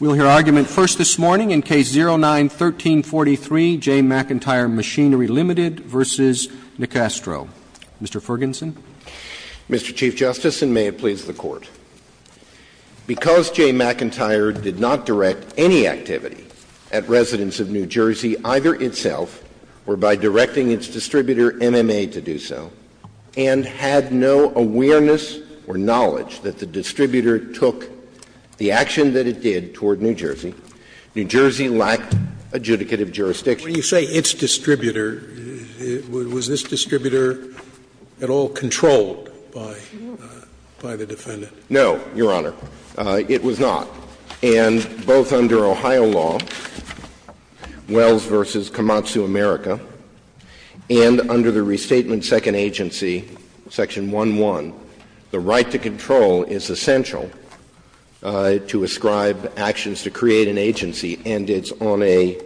We'll hear argument first this morning in Case 09-1343, J. McIntyre Machinery, Ltd. v. Nicastro. Mr. Fergenson. Mr. Chief Justice, and may it please the Court. Because J. McIntyre did not direct any activity at residents of New Jersey, either itself or by directing its distributor, MMA, to do so, and had no awareness or knowledge that the distributor took the action that it did toward New Jersey, New Jersey lacked adjudicative jurisdiction. When you say its distributor, was this distributor at all controlled by the defendant? No, Your Honor. It was not. And both under Ohio law, Wells v. Komatsu America, and under the Restatement Second Agency, Section 1.1, the right to control is essential to ascribe actions to create an agency, and it's on a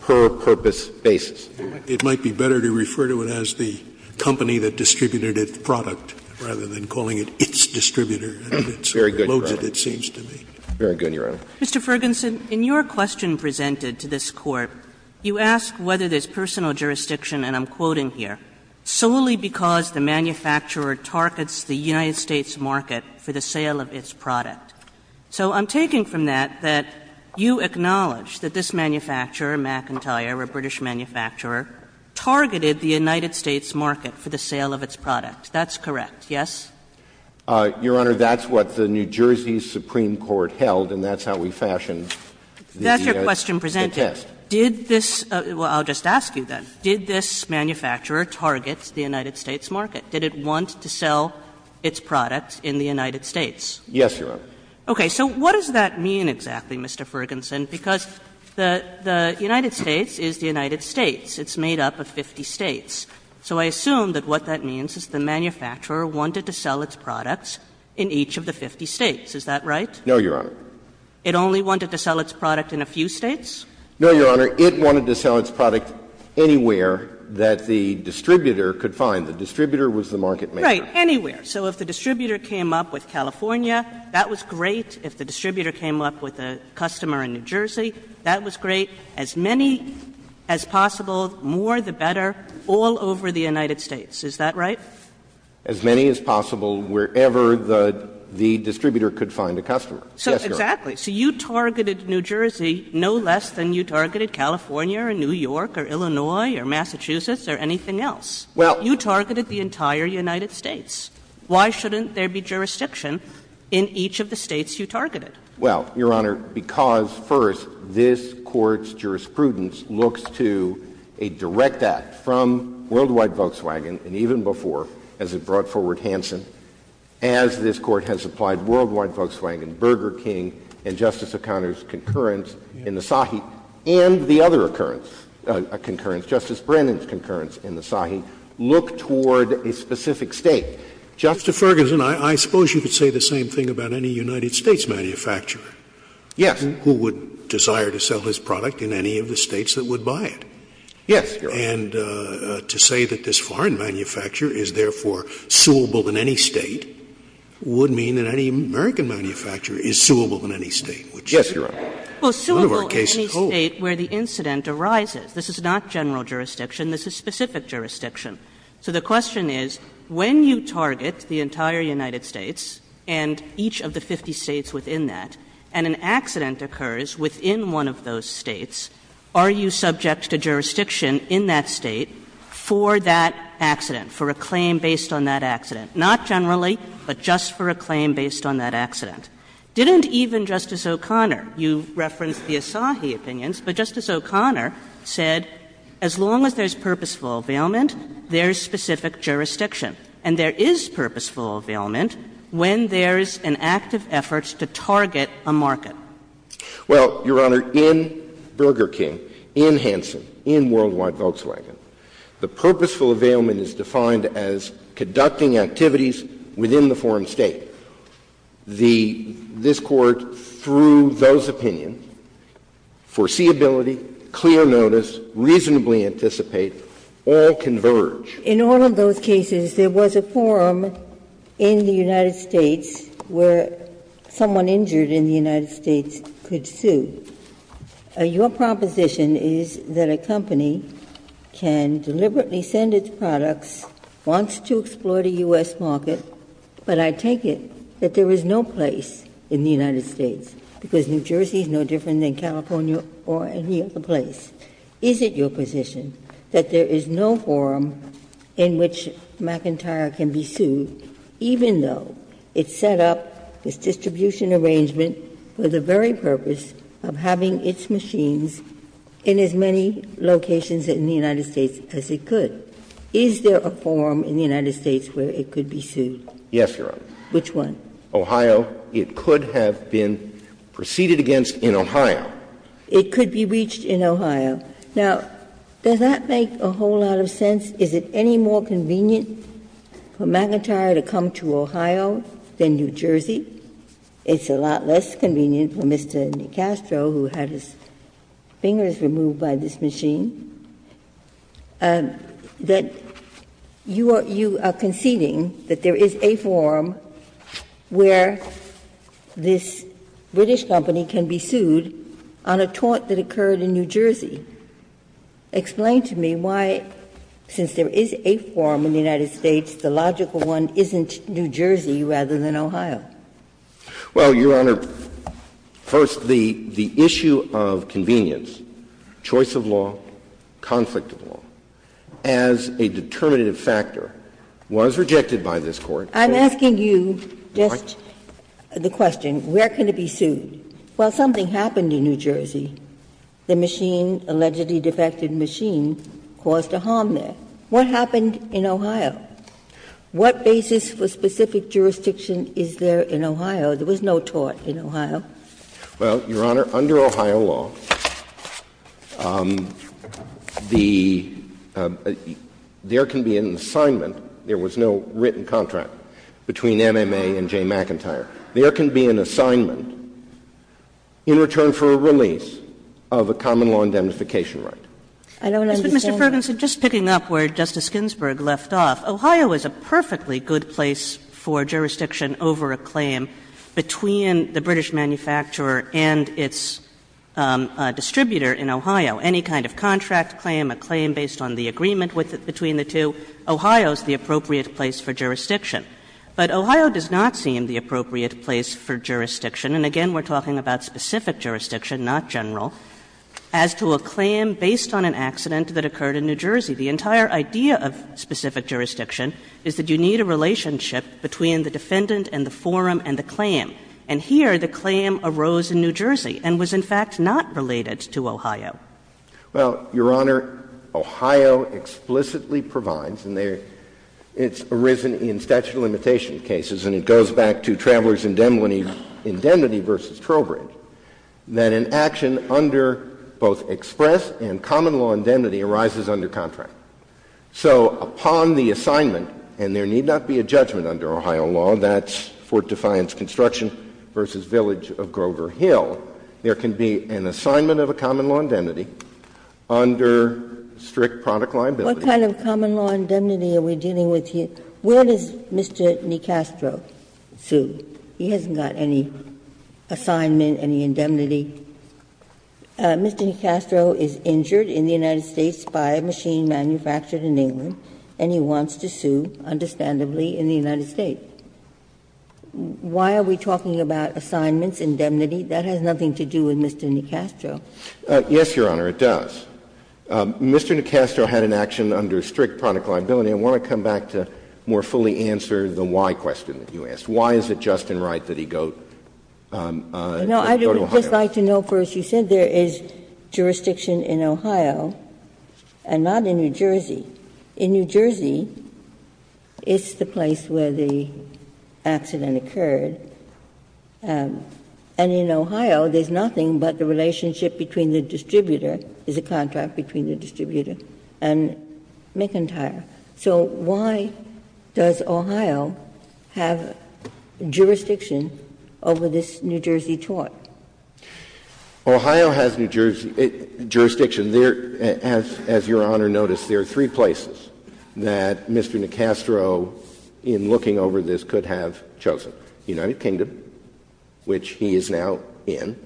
per-purpose basis. It might be better to refer to it as the company that distributed its product rather than calling it its distributor. Very good. Very good, Your Honor. Mr. Fergenson, in your question presented to this Court, you asked whether there's personal jurisdiction, and I'm quoting here, solely because the manufacturer targets the United States market for the sale of its product. So I'm taking from that that you acknowledge that this manufacturer, McIntyre, a British manufacturer, targeted the United States market for the sale of its product. That's correct, yes? Your Honor, that's what the New Jersey Supreme Court held, and that's how we fashioned the test. That's your question presented. Did this — well, I'll just ask you, then. Did this manufacturer target the United States market? Did it want to sell its product in the United States? Yes, Your Honor. Okay. So what does that mean exactly, Mr. Fergenson? Because the United States is the United States. It's made up of 50 States. So I assume that what that means is the manufacturer wanted to sell its products in each of the 50 States. Is that right? No, Your Honor. It only wanted to sell its product in a few States? No, Your Honor. It wanted to sell its product anywhere that the distributor could find. The distributor was the market maker. Right. Anywhere. So if the distributor came up with California, that was great. If the distributor came up with a customer in New Jersey, that was great. As many as possible, more the better, all over the United States. Is that right? As many as possible, wherever the distributor could find a customer. Yes, Your Honor. Exactly. So you targeted New Jersey no less than you targeted California or New York or Illinois or Massachusetts or anything else. Well — You targeted the entire United States. Why shouldn't there be jurisdiction in each of the States you targeted? Well, Your Honor, because, first, this Court's jurisprudence looks to a direct act from Worldwide Volkswagen, and even before, as it brought forward Hansen, as this Court has applied Worldwide Volkswagen, Burger King, and Justice O'Connor's concurrence in the SAHI, and the other occurrence — concurrence, Justice Brennan's concurrence in the SAHI, look toward a specific State. Justice Ferguson, I suppose you could say the same thing about any United States manufacturer — Yes. — who would desire to sell his product in any of the States that would buy it. Yes, Your Honor. And to say that this foreign manufacturer is, therefore, suable in any State would mean that any American manufacturer is suable in any State, which — Yes, Your Honor. Well, suable in any State where the incident arises. This is not general jurisdiction. This is specific jurisdiction. So the question is, when you target the entire United States and each of the 50 States within that, and an accident occurs within one of those States, are you subject to jurisdiction in that State for that accident, for a claim based on that accident? Not generally, but just for a claim based on that accident. Didn't even Justice O'Connor — you referenced the ASAHI opinions, but Justice O'Connor said, as long as there's purposeful availment, there's specific jurisdiction. And there is purposeful availment when there's an active effort to target a market. Well, Your Honor, in Burger King, in Hanson, in Worldwide Volkswagen, the purposeful availment is defined as conducting activities within the foreign State. The — this Court, through those opinions, foreseeability, clear notice, reasonably anticipate, all converge. In all of those cases, there was a forum in the United States where someone injured in the United States could sue. Your proposition is that a company can deliberately send its products, wants to explore the U.S. market, but I take it that there is no place in the United States, because New Jersey is no different than California or any other place. Is it your position that there is no forum in which McIntyre can be sued, even though it set up its distribution arrangement for the very purpose of having its machines in as many locations in the United States as it could? Is there a forum in the United States where it could be sued? Yes, Your Honor. Which one? Ohio. It could have been preceded against in Ohio. It could be reached in Ohio. Now, does that make a whole lot of sense? Is it any more convenient for McIntyre to come to Ohio than New Jersey? It's a lot less convenient for Mr. DeCastro, who had his fingers removed by this machine. That you are conceding that there is a forum where this British company can be sued on a tort that occurred in New Jersey. Explain to me why, since there is a forum in the United States, the logical one isn't New Jersey rather than Ohio. Well, Your Honor, first, the issue of convenience, choice of law, conflict of law, as a determinative factor, was rejected by this Court. I'm asking you just the question, where can it be sued? Well, something happened in New Jersey. The machine, allegedly defected machine, caused a harm there. What happened in Ohio? What basis for specific jurisdiction is there in Ohio? There was no tort in Ohio. Well, Your Honor, under Ohio law, the — there can be an assignment. There was no written contract between MMA and Jay McIntyre. There can be an assignment in return for a release of a common law indemnification right. I don't understand that. Well, Your Honor, just picking up where Justice Ginsburg left off, Ohio is a perfectly good place for jurisdiction over a claim between the British manufacturer and its distributor in Ohio. Any kind of contract claim, a claim based on the agreement between the two, Ohio is the appropriate place for jurisdiction. But Ohio does not seem the appropriate place for jurisdiction, and again, we're talking about specific jurisdiction, not general, as to a claim based on an accident that occurred in New Jersey. The entire idea of specific jurisdiction is that you need a relationship between the defendant and the forum and the claim. And here, the claim arose in New Jersey and was, in fact, not related to Ohio. Well, Your Honor, Ohio explicitly provides, and it's arisen in statute of limitation cases, and it goes back to Travelers' Indemnity v. Trowbridge, that an action under both express and common law indemnity arises under contract. So upon the assignment, and there need not be a judgment under Ohio law, that's Fort Defiance Construction v. Village of Grover Hill, there can be an assignment of a common law indemnity under strict product liability. What kind of common law indemnity are we dealing with here? Where does Mr. Nicastro sue? He hasn't got any assignment, any indemnity. Mr. Nicastro is injured in the United States by a machine manufactured in England, and he wants to sue, understandably, in the United States. Why are we talking about assignments, indemnity? That has nothing to do with Mr. Nicastro. Yes, Your Honor, it does. Mr. Nicastro had an action under strict product liability. I want to come back to more fully answer the why question that you asked. Why is it just and right that he go to Ohio? No, I would just like to know first. You said there is jurisdiction in Ohio and not in New Jersey. In New Jersey, it's the place where the accident occurred, and in Ohio, there's nothing but the relationship between the distributor, there's a contract between the distributor and McIntyre. So why does Ohio have jurisdiction over this New Jersey tort? Ohio has jurisdiction. As Your Honor noticed, there are three places that Mr. Nicastro, in looking over this, could have chosen. The United Kingdom, which he is now in,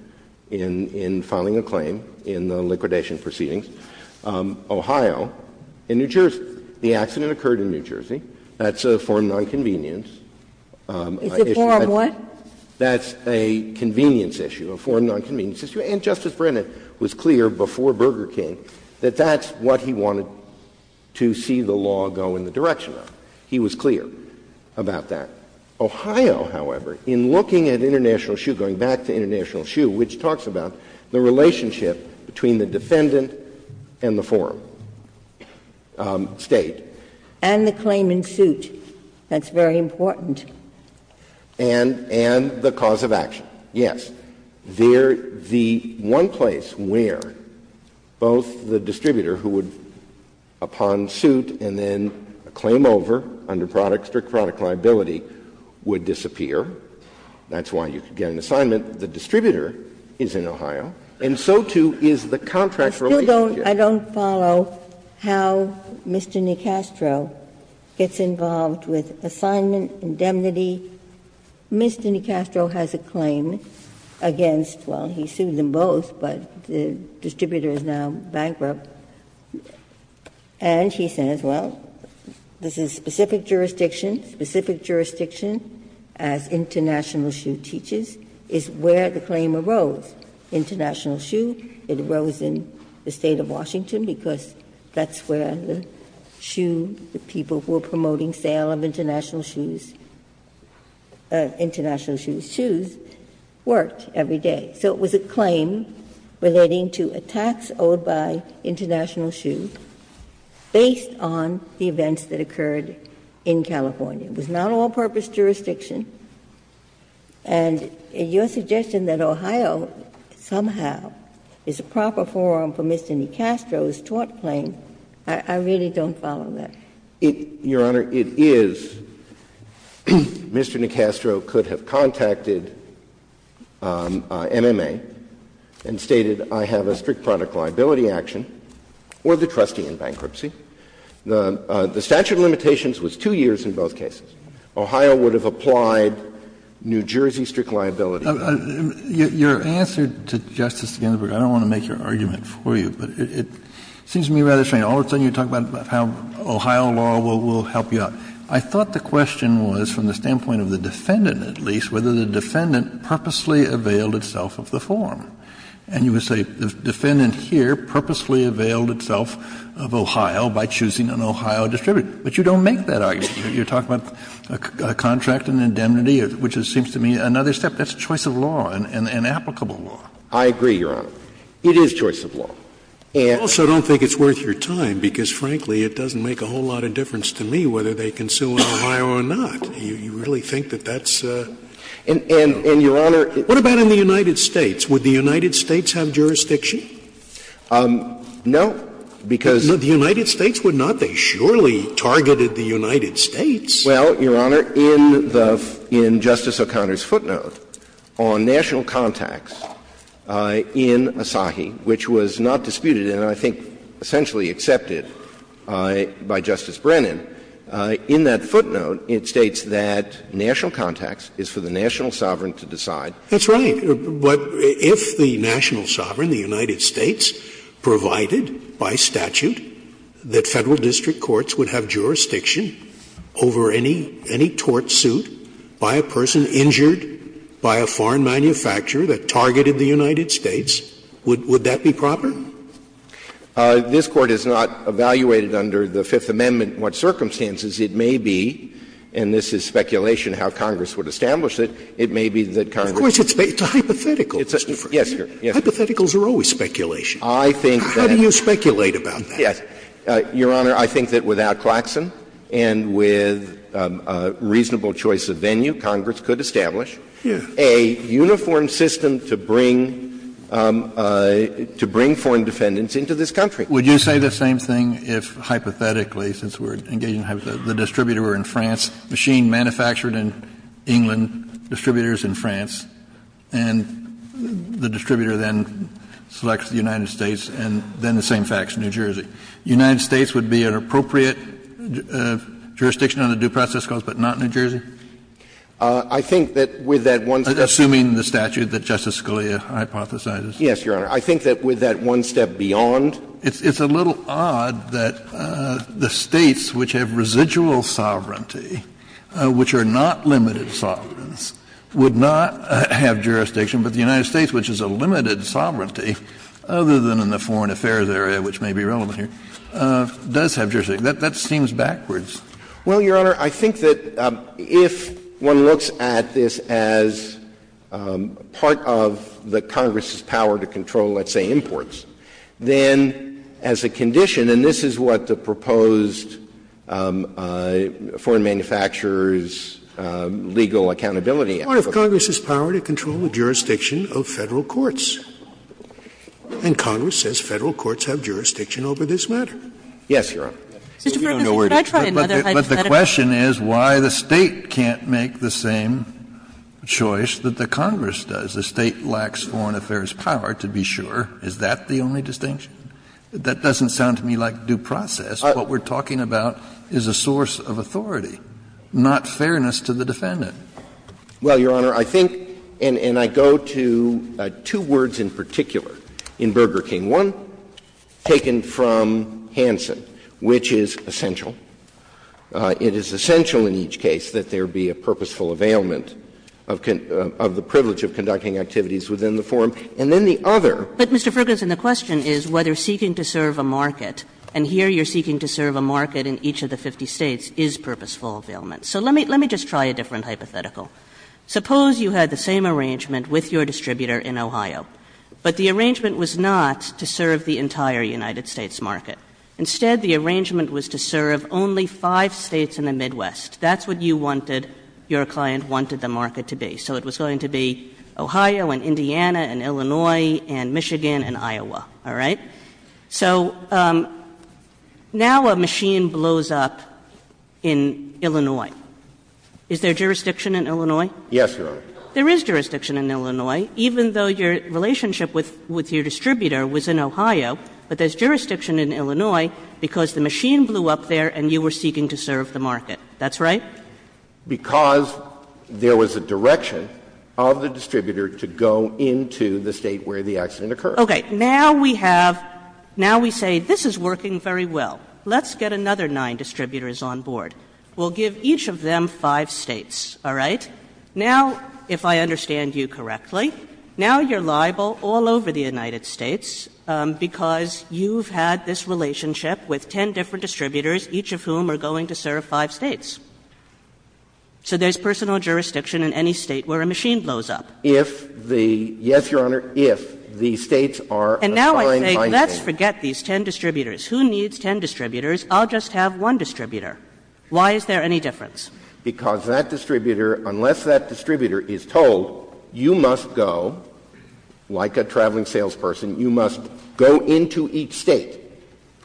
in filing a claim in the liquidation proceedings. Ohio and New Jersey. The accident occurred in New Jersey. That's a form of nonconvenience. It's a form of what? That's a convenience issue, a form of nonconvenience issue. And Justice Brennan was clear before Burger King that that's what he wanted to see the law go in the direction of. He was clear about that. Ohio, however, in looking at international shoe, going back to international shoe, which talks about the relationship between the defendant and the form. State. And the claim in suit. That's very important. And the cause of action. Yes. The one place where both the distributor who would, upon suit and then claim over under product, strict product liability, would disappear, that's why you could get an assignment, the distributor is in Ohio, and so, too, is the contract relationship. I don't follow how Mr. Nicastro gets involved with assignment, indemnity. Mr. Nicastro has a claim against, well, he sued them both, but the distributor is now bankrupt. And he says, well, this is specific jurisdiction, specific jurisdiction, as international shoe teaches, is where the claim arose. International shoe, it arose in the State of Washington, because that's where the shoe, the people who are promoting sale of international shoes, international shoes, worked every day. So it was a claim relating to a tax owed by international shoe based on the events that occurred in California. It was not all-purpose jurisdiction. And your suggestion that Ohio somehow is a proper forum for Mr. Nicastro's tort claim, I really don't follow that. Your Honor, it is. Mr. Nicastro could have contacted MMA and stated, I have a strict product liability action, or the trustee in bankruptcy. The statute of limitations was 2 years in both cases. Ohio would have applied New Jersey strict liability. Kennedy. Your answer to Justice Ginsburg, I don't want to make your argument for you, but it seems to me rather strange. All of a sudden you talk about how Ohio law will help you out. I thought the question was, from the standpoint of the defendant at least, whether the defendant purposely availed itself of the forum. And you would say the defendant here purposely availed itself of Ohio by choosing an Ohio distributor. But you don't make that argument. You're talking about a contract and indemnity, which seems to me another step. That's a choice of law, an applicable law. I agree, Your Honor. It is choice of law. And also, I don't think it's worth your time, because frankly, it doesn't make a whole lot of difference to me whether they can sue in Ohio or not. You really think that that's a law. And, Your Honor, it's not. What about in the United States? Would the United States have jurisdiction? No, because the United States would not. They surely targeted the United States. Well, Your Honor, in Justice O'Connor's footnote on national contacts in Asahi, which was not disputed and I think essentially accepted by Justice Brennan, in that footnote it states that national contacts is for the national sovereign to decide. That's right. But if the national sovereign, the United States, provided by statute that Federal district courts would have jurisdiction over any tort suit by a person injured by a foreign manufacturer that targeted the United States, would that be proper? This Court has not evaluated under the Fifth Amendment what circumstances it may be, and this is speculation how Congress would establish it, it may be that Congress would. Of course, it's a hypothetical, Mr. Ferguson. Yes, Your Honor. Hypotheticals are always speculation. I think that's. How do you speculate about that? Yes. Your Honor, I think that without Claxon and with a reasonable choice of venue, Congress could establish a uniform system to bring foreign defendants into this country. Would you say the same thing if hypothetically, since we're engaging in hypotheticals, the distributor were in France, machine-manufactured in England, distributors in France, and the distributor then selects the United States, and then the same facts, New Jersey. The United States would be an appropriate jurisdiction on the due process clause, but not New Jersey? I think that with that one step beyond. Assuming the statute that Justice Scalia hypothesizes. Yes, Your Honor. I think that with that one step beyond. It's a little odd that the States which have residual sovereignty, which are not limited to the United States, which is a limited sovereignty, other than in the foreign affairs area, which may be relevant here, does have jurisdiction. That seems backwards. Well, Your Honor, I think that if one looks at this as part of the Congress's power to control, let's say, imports, then as a condition, and this is what the proposed statute says, foreign manufacturers, legal accountability. It's part of Congress's power to control the jurisdiction of Federal courts. And Congress says Federal courts have jurisdiction over this matter. Yes, Your Honor. But the question is why the State can't make the same choice that the Congress does. The State lacks foreign affairs power, to be sure. Is that the only distinction? That doesn't sound to me like due process. What we're talking about is a source of authority, not fairness to the defendant. Well, Your Honor, I think, and I go to two words in particular in Burger King. One taken from Hansen, which is essential. It is essential in each case that there be a purposeful availment of the privilege of conducting activities within the forum. And then the other. But, Mr. Ferguson, the question is whether seeking to serve a market, and here you're seeking to serve a market in each of the 50 States, is purposeful availment. So let me just try a different hypothetical. Suppose you had the same arrangement with your distributor in Ohio. But the arrangement was not to serve the entire United States market. Instead, the arrangement was to serve only five States in the Midwest. That's what you wanted, your client wanted the market to be. So it was going to be Ohio and Indiana and Illinois and Michigan and Iowa. All right? So now a machine blows up in Illinois. Is there jurisdiction in Illinois? Yes, Your Honor. There is jurisdiction in Illinois, even though your relationship with your distributor was in Ohio. But there's jurisdiction in Illinois because the machine blew up there and you were seeking to serve the market. That's right? Because there was a direction of the distributor to go into the State where the accident occurred. Okay. Now we have — now we say this is working very well. Let's get another nine distributors on board. We'll give each of them five States. All right? Now, if I understand you correctly, now you're liable all over the United States because you've had this relationship with ten different distributors, each of whom are going to serve five States. So there's personal jurisdiction in any State where a machine blows up. If the — yes, Your Honor, if the States are assigned — And now I say, let's forget these ten distributors. Who needs ten distributors? I'll just have one distributor. Why is there any difference? Because that distributor, unless that distributor is told, you must go, like a traveling salesperson, you must go into each State.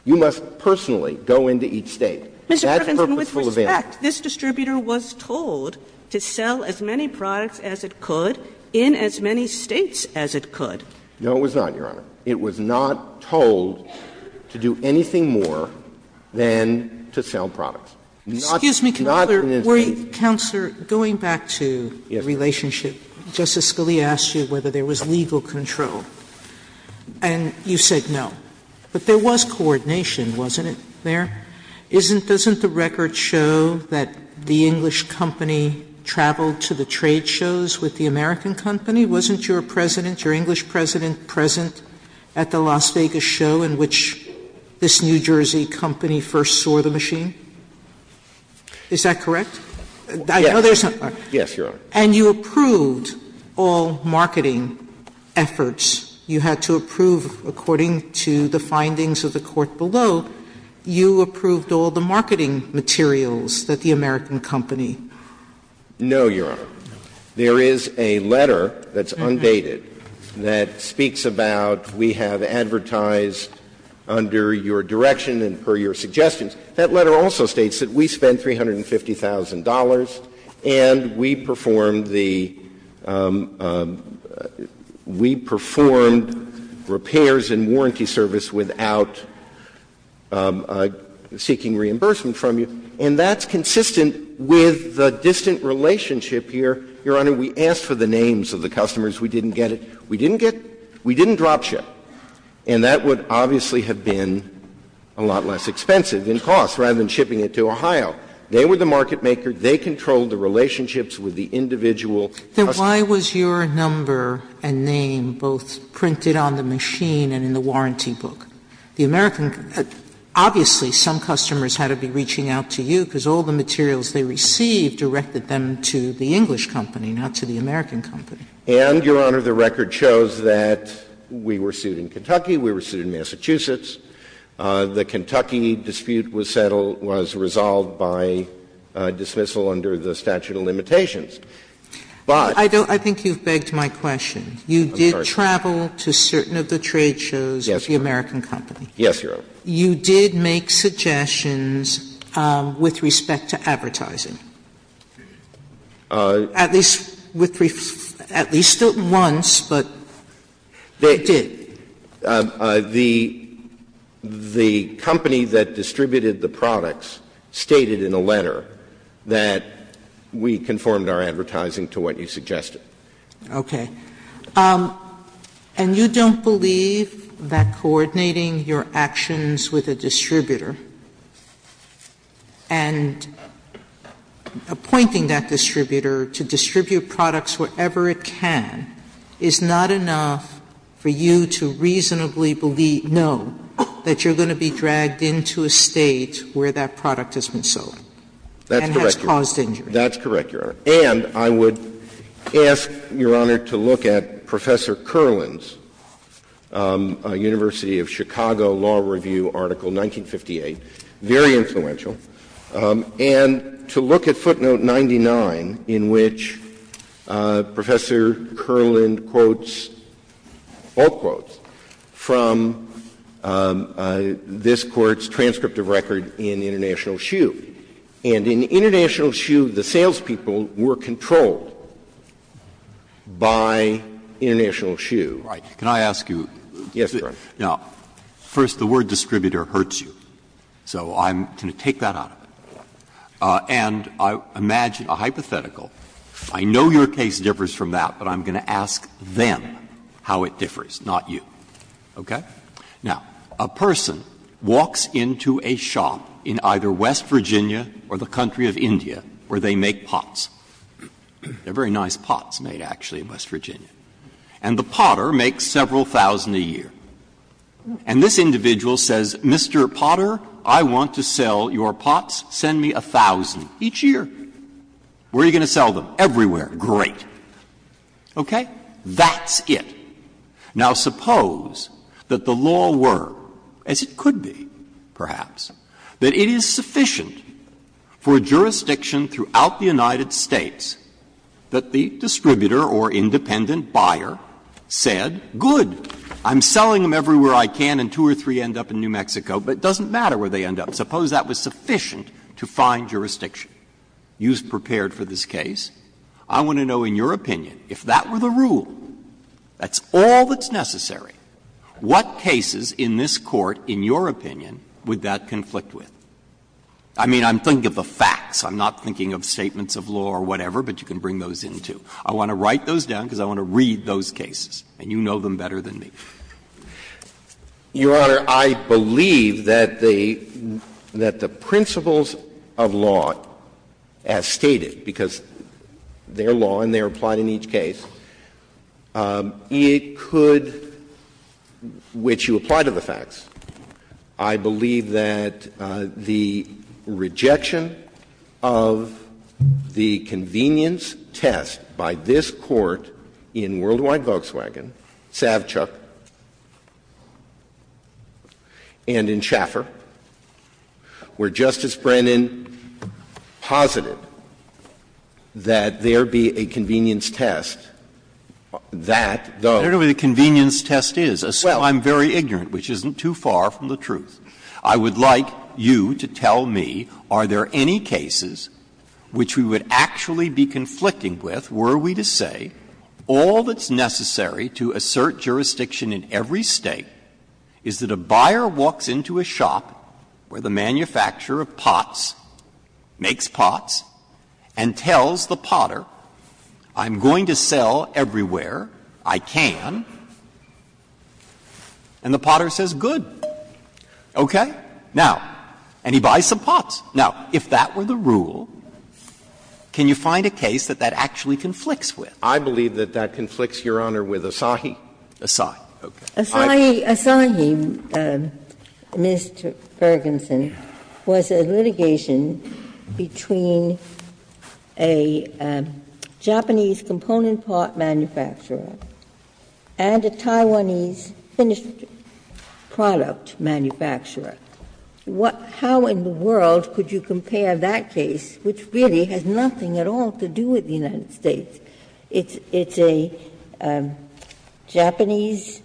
You must personally go into each State. That's purposeful of him. In fact, this distributor was told to sell as many products as it could in as many States as it could. No, it was not, Your Honor. It was not told to do anything more than to sell products. Not in the States. Excuse me, Counselor. Were you — Counselor, going back to the relationship, Justice Scalia asked you whether there was legal control, and you said no. But there was coordination, wasn't it, there? Isn't — doesn't the record show that the English company traveled to the trade shows with the American company? Wasn't your president, your English president, present at the Las Vegas show in which this New Jersey company first saw the machine? Is that correct? I know there's not — Yes, Your Honor. And you approved all marketing efforts. You had to approve, according to the findings of the court below, you approved all the marketing materials that the American company — No, Your Honor. There is a letter that's undated that speaks about we have advertised under your direction and per your suggestions. That letter also states that we spent $350,000 and we performed the — we performed repairs and warranty service without seeking reimbursement from you. And that's consistent with the distant relationship here. Your Honor, we asked for the names of the customers. We didn't get it. We didn't get — we didn't drop ship. And that would obviously have been a lot less expensive in cost, rather than shipping it to Ohio. They were the market maker. They controlled the relationships with the individual customers. Then why was your number and name both printed on the machine and in the warranty book? The American — obviously, some customers had to be reaching out to you because all the materials they received directed them to the English company, not to the American company. And, Your Honor, the record shows that we were sued in Kentucky, we were sued in Massachusetts. The Kentucky dispute was settled — was resolved by dismissal under the statute of limitations. But — Sotomayor, I don't — I think you've begged my question. You did travel to certain of the trade shows of the American company. Yes, Your Honor. You did make suggestions with respect to advertising. At least with — at least once, but you did. The — the company that distributed the products stated in a letter that we conformed our advertising to what you suggested. Okay. And you don't believe that coordinating your actions with a distributor and appointing that distributor to distribute products wherever it can is not enough for you to reasonably believe — know that you're going to be dragged into a State where that product has been sold? That's correct, Your Honor. And has caused injury? That's correct, Your Honor. And I would ask, Your Honor, to look at Professor Kerland's University of Chicago Law Review Article 1958, very influential, and to look at footnote 99 in which Professor Kerland quotes all quotes from this Court's transcript of record in International Shoe. And in International Shoe, the salespeople were controlled by International Shoe. Right. Can I ask you? Yes, Your Honor. Now, first, the word distributor hurts you, so I'm going to take that out of it. And I imagine a hypothetical. I know your case differs from that, but I'm going to ask them how it differs, not you. Okay? Now, a person walks into a shop in either West Virginia or the country of India where they make pots. They're very nice pots made, actually, in West Virginia. And the potter makes several thousand a year. And this individual says, Mr. Potter, I want to sell your pots. Send me a thousand each year. Where are you going to sell them? Everywhere. Great. Okay? That's it. Now, suppose that the law were, as it could be, perhaps, that it is sufficient for a jurisdiction throughout the United States that the distributor or independent buyer said, good, I'm selling them everywhere I can and two or three end up in New Mexico, but it doesn't matter where they end up. Suppose that was sufficient to find jurisdiction. You've prepared for this case. I want to know, in your opinion, if that were the rule, that's all that's necessary, what cases in this Court, in your opinion, would that conflict with? I mean, I'm thinking of the facts. I'm not thinking of statements of law or whatever, but you can bring those in, too. I want to write those down because I want to read those cases, and you know them better than me. Your Honor, I believe that the principles of law, as stated, because they're law and they're applied in each case, it could, which you apply to the facts. I believe that the rejection of the convenience test by this Court in Worldwide Volkswagen, Savchuk, and in Schaeffer, where Justice Brennan posited that there be a convenience test, that those. Breyer, I don't know where the convenience test is. Well, I'm very ignorant, which isn't too far from the truth. I would like you to tell me, are there any cases which we would actually be conflicting with were we to say all that's necessary to assert jurisdiction in every State is that a buyer walks into a shop where the manufacturer of pots makes pots and tells the potter, I'm going to sell everywhere I can, and the potter says, good. Okay? Now, and he buys some pots. Now, if that were the rule, can you find a case that that actually conflicts with? I believe that that conflicts, Your Honor, with Asahi. Asahi. Asahi, Mr. Fergenson, was a litigation between a Japanese component pot manufacturer and a Taiwanese finished product manufacturer. How in the world could you compare that case, which really has nothing at all to do with the United States? It's a Japanese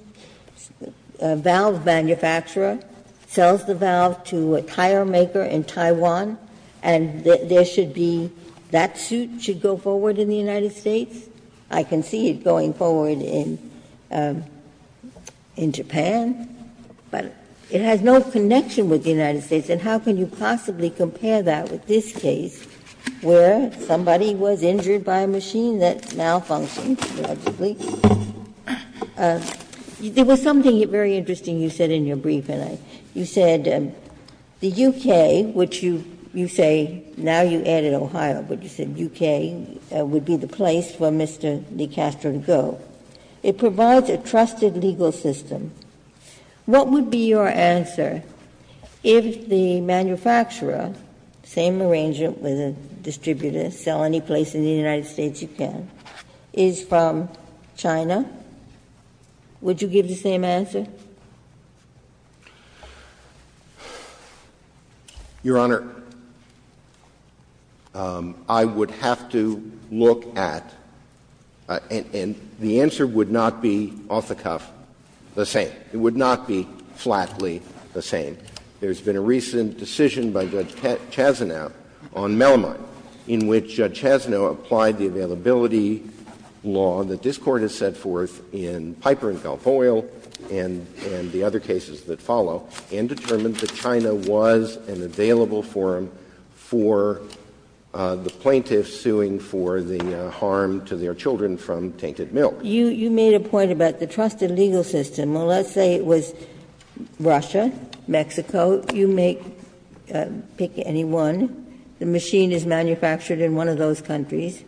valve manufacturer, sells the valve to a tire maker in Taiwan, and there should be that suit should go forward in the United States. I can see it going forward in Japan, but it has no connection with the United States, and how can you possibly compare that with this case where somebody was injured by a machine that malfunctioned, logically? There was something very interesting you said in your briefing. You said the U.K., which you say now you added Ohio, but you said U.K. would be the place for Mr. de Castro to go. It provides a trusted legal system. What would be your answer if the manufacturer, same arrangement with a distributor, sell any place in the United States you can, is from China? Would you give the same answer? Your Honor, I would have to look at — and the answer would not be off-the-cuff the same. It would not be flatly the same. There's been a recent decision by Judge Chazanow on Melamine, in which Judge Chazanow applied the availability law that this Court has set forth in Piper and Balfoyle and the other cases that follow, and determined that China was an available forum for the plaintiffs suing for the harm to their children from tainted milk. You made a point about the trusted legal system. Well, let's say it was Russia, Mexico. You may pick any one. The machine is manufactured in one of those countries,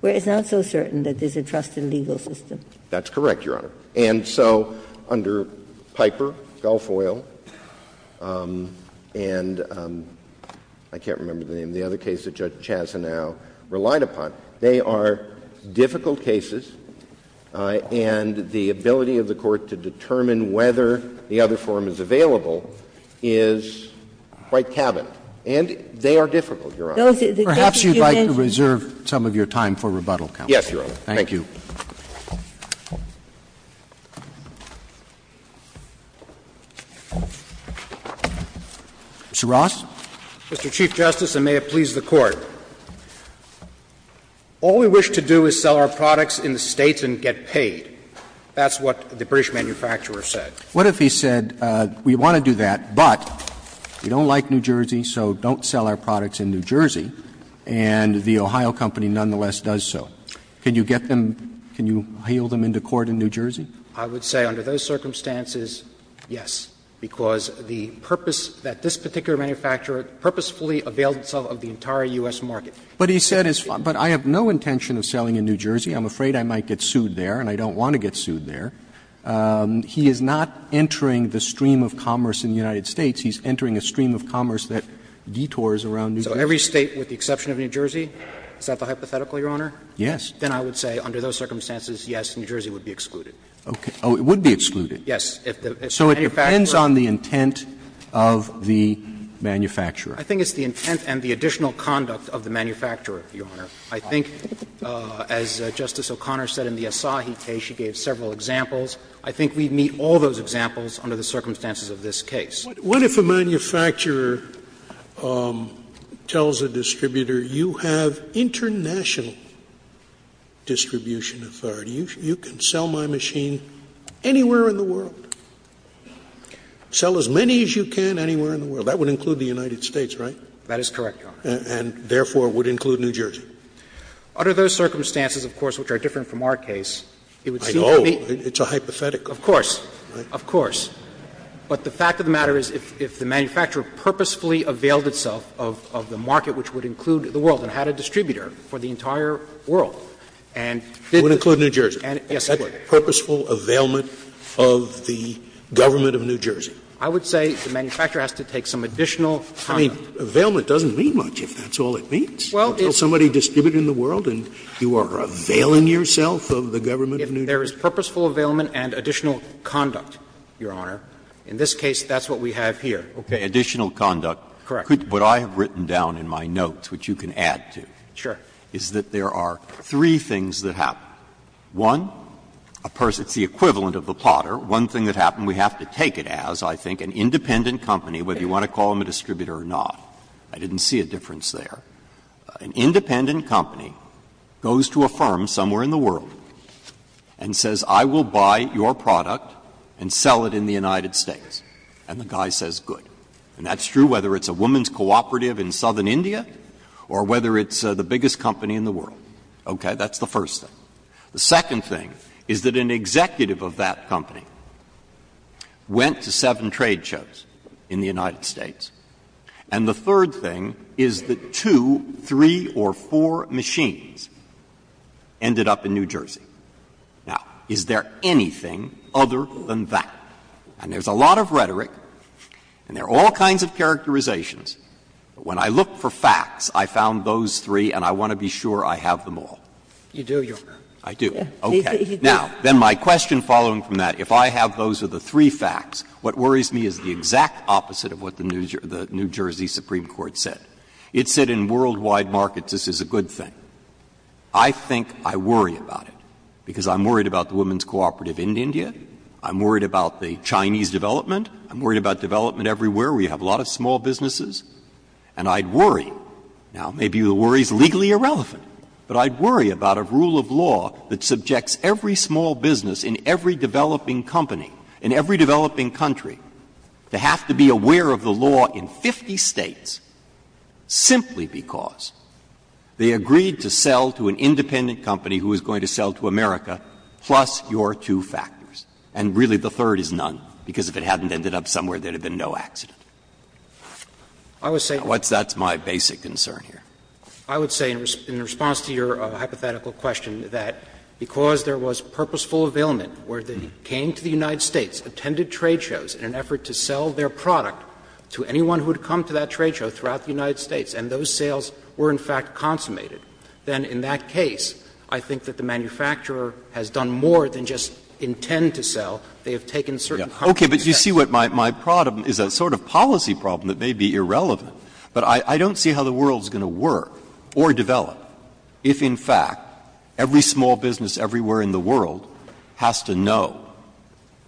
where it's not so certain that there's a trusted legal system. That's correct, Your Honor. And so under Piper, Balfoyle, and I can't remember the name of the other case that Judge Chazanow relied upon, they are difficult cases, and the ability of the Court to determine whether the other forum is available is quite cabinet. And they are difficult, Your Honor. Perhaps you'd like to reserve some of your time for rebuttal, counsel. Yes, Your Honor. Thank you. Mr. Ross. Mr. Chief Justice, and may it please the Court. All we wish to do is sell our products in the States and get paid. That's what the British manufacturer said. What if he said, we want to do that, but we don't like New Jersey, so don't sell our products in New Jersey, and the Ohio Company nonetheless does so? Can you get them, can you hail them into court in New Jersey? I would say under those circumstances, yes, because the purpose that this particular manufacturer purposefully availed itself of the entire U.S. market. But he said, but I have no intention of selling in New Jersey. I'm afraid I might get sued there, and I don't want to get sued there. He is not entering the stream of commerce in the United States. He's entering a stream of commerce that detours around New Jersey. So every State with the exception of New Jersey? Is that the hypothetical, Your Honor? Yes. Then I would say under those circumstances, yes, New Jersey would be excluded. Okay. Oh, it would be excluded? Yes. So it depends on the intent of the manufacturer? I think it's the intent and the additional conduct of the manufacturer, Your Honor. I think, as Justice O'Connor said in the Asahi case, she gave several examples. I think we meet all those examples under the circumstances of this case. What if a manufacturer tells a distributor, you have international distribution authority, you can sell my machine anywhere in the world? Sell as many as you can anywhere in the world. That would include the United States, right? That is correct, Your Honor. And therefore, it would include New Jersey. Under those circumstances, of course, which are different from our case, it would seem to me. I know. It's a hypothetical. Of course. Of course. But the fact of the matter is, if the manufacturer purposefully availed itself of the market, which would include the world, and had a distributor for the entire world, and did this. It would include New Jersey? Yes, it would. Is that purposeful availment of the government of New Jersey? I would say the manufacturer has to take some additional conduct. I mean, availment doesn't mean much, if that's all it means. Well, it's. of New Jersey. And there is purposeful availment and additional conduct, Your Honor. In this case, that's what we have here. Okay. Additional conduct. Correct. What I have written down in my notes, which you can add to. Sure. Is that there are three things that happen. One, a person, it's the equivalent of the potter. One thing that happened, we have to take it as, I think, an independent company, whether you want to call them a distributor or not. I didn't see a difference there. An independent company goes to a firm somewhere in the world. And says, I will buy your product and sell it in the United States. And the guy says, good. And that's true whether it's a woman's cooperative in southern India or whether it's the biggest company in the world. Okay. That's the first thing. The second thing is that an executive of that company went to seven trade shows in the United States. And the third thing is that two, three, or four machines ended up in New Jersey. Now, is there anything other than that? And there's a lot of rhetoric and there are all kinds of characterizations. When I look for facts, I found those three and I want to be sure I have them all. You do, Your Honor. I do. Okay. Now, then my question following from that, if I have those are the three facts, what worries me is the exact opposite of what the New Jersey Supreme Court said. It said in worldwide markets, this is a good thing. I think I worry about it, because I'm worried about the woman's cooperative in India. I'm worried about the Chinese development. I'm worried about development everywhere. We have a lot of small businesses. And I'd worry, now maybe the worry is legally irrelevant, but I'd worry about a rule of law that subjects every small business in every developing company, in every developing country, to have to be aware of the law in 50 States simply because they agreed to sell to an independent company who is going to sell to America plus your two factors. And really, the third is none, because if it hadn't ended up somewhere, there would have been no accident. Now, that's my basic concern here. I would say, in response to your hypothetical question, that because there was purposeful availment where they came to the United States, attended trade shows in an effort to sell their product to anyone who had come to that trade show throughout the United States, and those sales were, in fact, consummated, then in that case, I think that the manufacturer has done more than just intend to sell. They have taken certain companies that have been consumed. Breyer. Okay. But you see what my problem is a sort of policy problem that may be irrelevant. But I don't see how the world is going to work or develop if, in fact, every small business everywhere in the world has to know,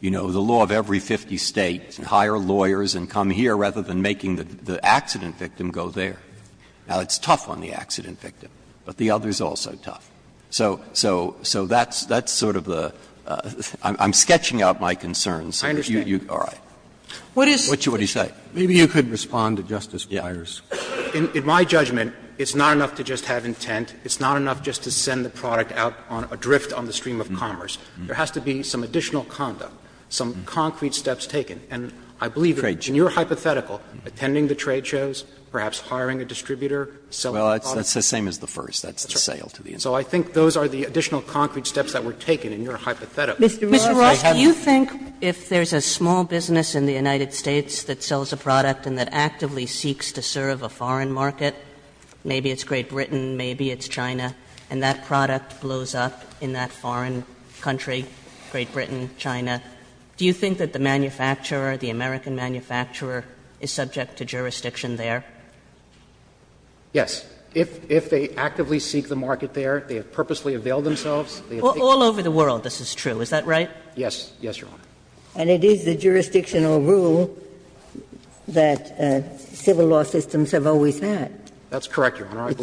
you know, the law of every 50 States and hire lawyers and come here rather than making the accident victim go there. Now, it's tough on the accident victim, but the other is also tough. So that's sort of the – I'm sketching out my concerns. I understand. All right. What is it? What do you say? Maybe you could respond to Justice Breyer's. In my judgment, it's not enough to just have intent. It's not enough just to send the product out on a drift on the stream of commerce. There has to be some additional conduct, some concrete steps taken. And I believe in your hypothetical, attending the trade shows, perhaps hiring a distributor, selling a product. Well, that's the same as the first. That's the sale to the end. So I think those are the additional concrete steps that were taken in your hypothetical. Mr. Roth, do you think if there's a small business in the United States that sells a product and that actively seeks to serve a foreign market, maybe it's Great Britain, maybe it's China, and that product blows up in that foreign country, Great Britain, China, do you think that the manufacturer, the American manufacturer, is subject to jurisdiction there? Yes. If they actively seek the market there, they have purposely availed themselves. All over the world this is true, is that right? Yes. Yes, Your Honor. And it is the jurisdictional rule that civil law systems have always had. That's correct, Your Honor.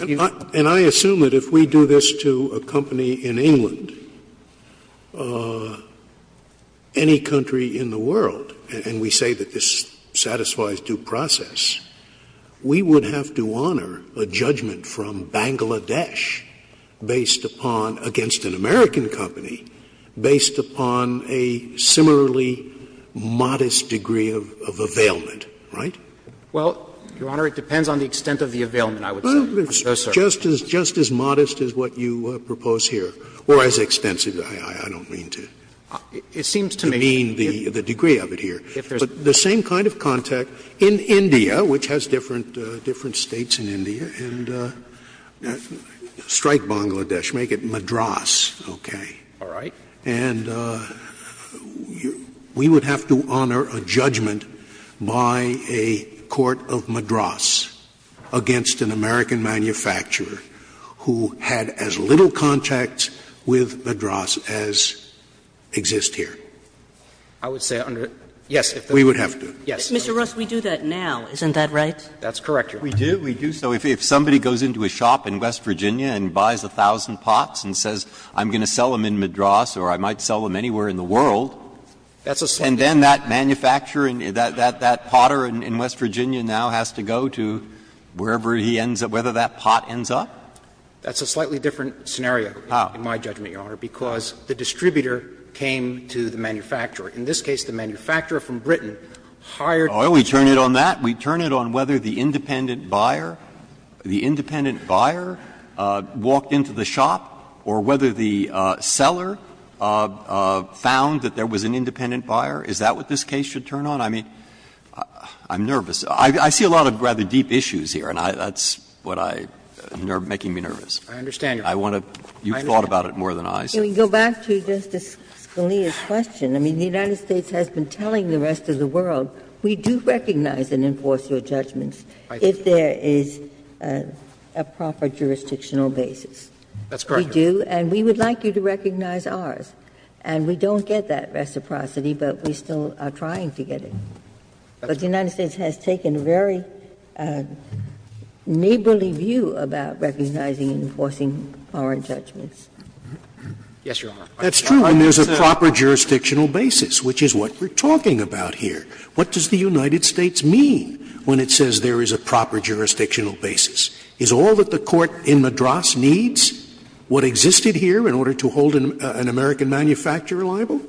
And I assume that if we do this to a company in England, any country in the world, and we say that this satisfies due process, we would have to honor a judgment from Bangladesh based upon, against an American company, based upon a similarly modest degree of availment, right? Well, Your Honor, it depends on the extent of the availment, I would say. Well, it's just as modest as what you propose here, or as extensive. I don't mean to demean the degree of it here. But the same kind of contact in India, which has different States in India, and strike Bangladesh, make it Madras, okay? All right. And we would have to honor a judgment by a court of Madras against an American manufacturer who had as little contact with Madras as exists here. I would say under the law, yes. We would have to. Yes. Mr. Russ, we do that now. Isn't that right? That's correct, Your Honor. We do. We do. So if somebody goes into a shop in West Virginia and buys a thousand pots and says I'm going to sell them in Madras or I might sell them anywhere in the world, and then that manufacturer, that potter in West Virginia now has to go to wherever he ends up, whether that pot ends up? That's a slightly different scenario, in my judgment, Your Honor, because the distributor came to the manufacturer. In this case, the manufacturer from Britain hired. Oh, we turn it on that? We turn it on whether the independent buyer, the independent buyer walked into the shop, or whether the seller found that there was an independent buyer? Is that what this case should turn on? I mean, I'm nervous. I see a lot of rather deep issues here, and that's what I – making me nervous. I understand, Your Honor. I want to – you've thought about it more than I. Can we go back to Justice Scalia's question? I mean, the United States has been telling the rest of the world, we do recognize and enforce your judgments if there is a proper jurisdictional basis. That's correct, Your Honor. We do, and we would like you to recognize ours. And we don't get that reciprocity, but we still are trying to get it. But the United States has taken a very neighborly view about recognizing and enforcing foreign judgments. Yes, Your Honor. That's true when there's a proper jurisdictional basis, which is what we're talking about here. What does the United States mean when it says there is a proper jurisdictional basis? Is all that the court in Madras needs what existed here in order to hold an American manufacturer liable?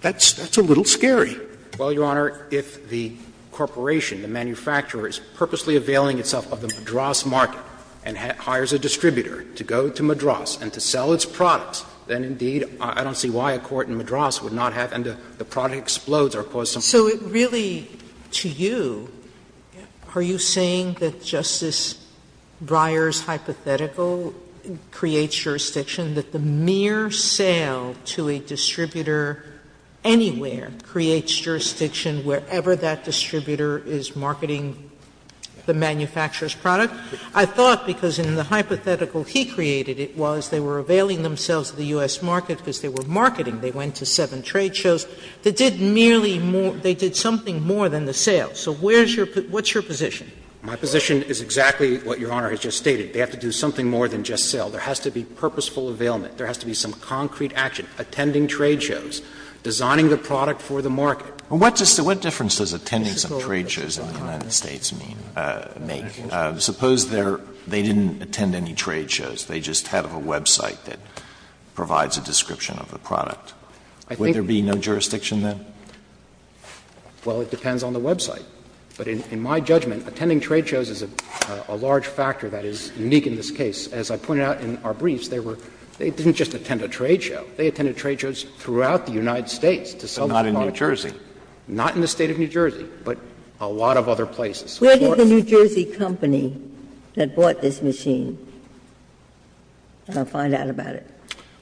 That's a little scary. Well, Your Honor, if the corporation, the manufacturer, is purposely availing itself of the Madras market and hires a distributor to go to Madras and to sell its products, then indeed, I don't see why a court in Madras would not have, and the product explodes or cause some harm. So really, to you, are you saying that Justice Breyer's hypothetical creates jurisdiction, that the mere sale to a distributor anywhere creates jurisdiction wherever that distributor is marketing the manufacturer's product? I thought, because in the hypothetical he created, it was they were availing themselves of the U.S. market because they were marketing. They went to seven trade shows. They did merely more — they did something more than the sale. So where's your — what's your position? My position is exactly what Your Honor has just stated. They have to do something more than just sell. There has to be purposeful availment. There has to be some concrete action. Attending trade shows, designing the product for the market. And what difference does attending some trade shows in the United States make? Suppose they didn't attend any trade shows. They just have a website that provides a description of the product. Would there be no jurisdiction then? Well, it depends on the website. But in my judgment, attending trade shows is a large factor that is unique in this case. As I pointed out in our briefs, they were — they didn't just attend a trade show. They attended trade shows throughout the United States to sell the product. But not in New Jersey. Not in the State of New Jersey, but a lot of other places. Where did the New Jersey company that bought this machine find out about it?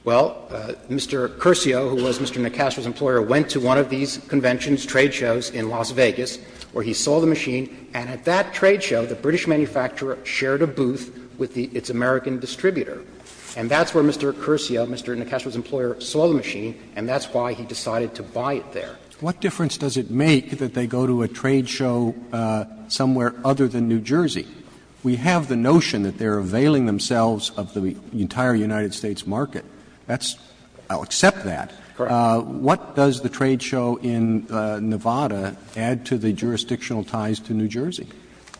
Well, Mr. Curcio, who was Mr. Nacastro's employer, went to one of these conventions, trade shows in Las Vegas, where he sold the machine. And at that trade show, the British manufacturer shared a booth with its American distributor. And that's where Mr. Curcio, Mr. Nacastro's employer, saw the machine, and that's why he decided to buy it there. What difference does it make that they go to a trade show somewhere other than New Jersey? We have the notion that they are availing themselves of the entire United States market. That's — I'll accept that. Correct. What does the trade show in Nevada add to the jurisdictional ties to New Jersey?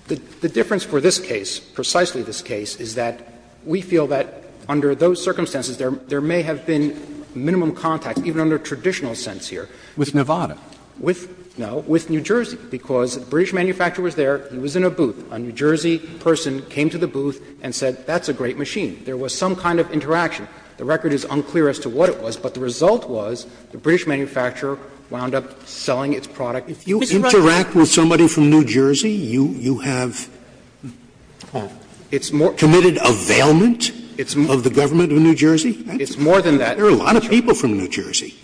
The difference for this case, precisely this case, is that we feel that under those circumstances, there may have been minimum contact, even under traditional sense here. With Nevada? With — no, with New Jersey, because the British manufacturer was there. He was in a booth. A New Jersey person came to the booth and said, that's a great machine. There was some kind of interaction. The record is unclear as to what it was, but the result was the British manufacturer wound up selling its product. If you interact with somebody from New Jersey, you have committed availment of the government of New Jersey? It's more than that. There are a lot of people from New Jersey.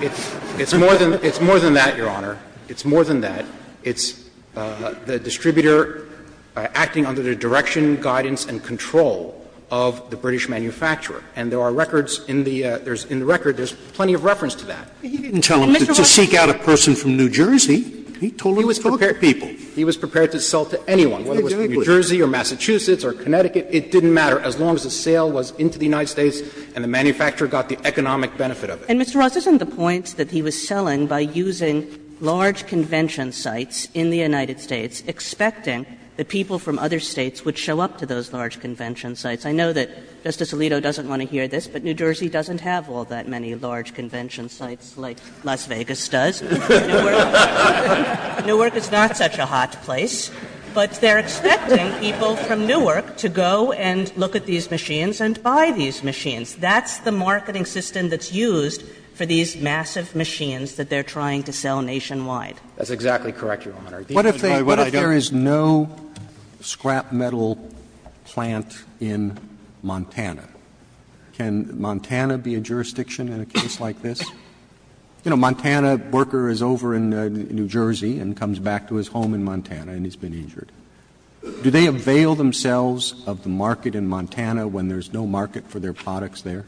It's more than that, Your Honor. It's more than that. It's the distributor acting under the direction, guidance, and control of the British manufacturer, and there are records in the record, there's plenty of reference to that. He didn't tell them to seek out a person from New Jersey. He told them to talk to people. He was prepared to sell to anyone, whether it was from New Jersey or Massachusetts or Connecticut. It didn't matter, as long as the sale was into the United States and the manufacturer got the economic benefit of it. And, Mr. Ross, isn't the point that he was selling by using large convention sites in the United States, expecting that people from other States would show up to those large convention sites? I know that Justice Alito doesn't want to hear this, but New Jersey doesn't have all that many large convention sites like Las Vegas does. Newark is not such a hot place, but they're expecting people from Newark to go and look at these machines and buy these machines. That's the marketing system that's used for these massive machines that they're trying to sell nationwide. That's exactly correct, Your Honor. What if there is no scrap metal plant in Montana? Can Montana be a jurisdiction in a case like this? You know, a Montana worker is over in New Jersey and comes back to his home in Montana and he's been injured. Do they avail themselves of the market in Montana when there's no market for their products there?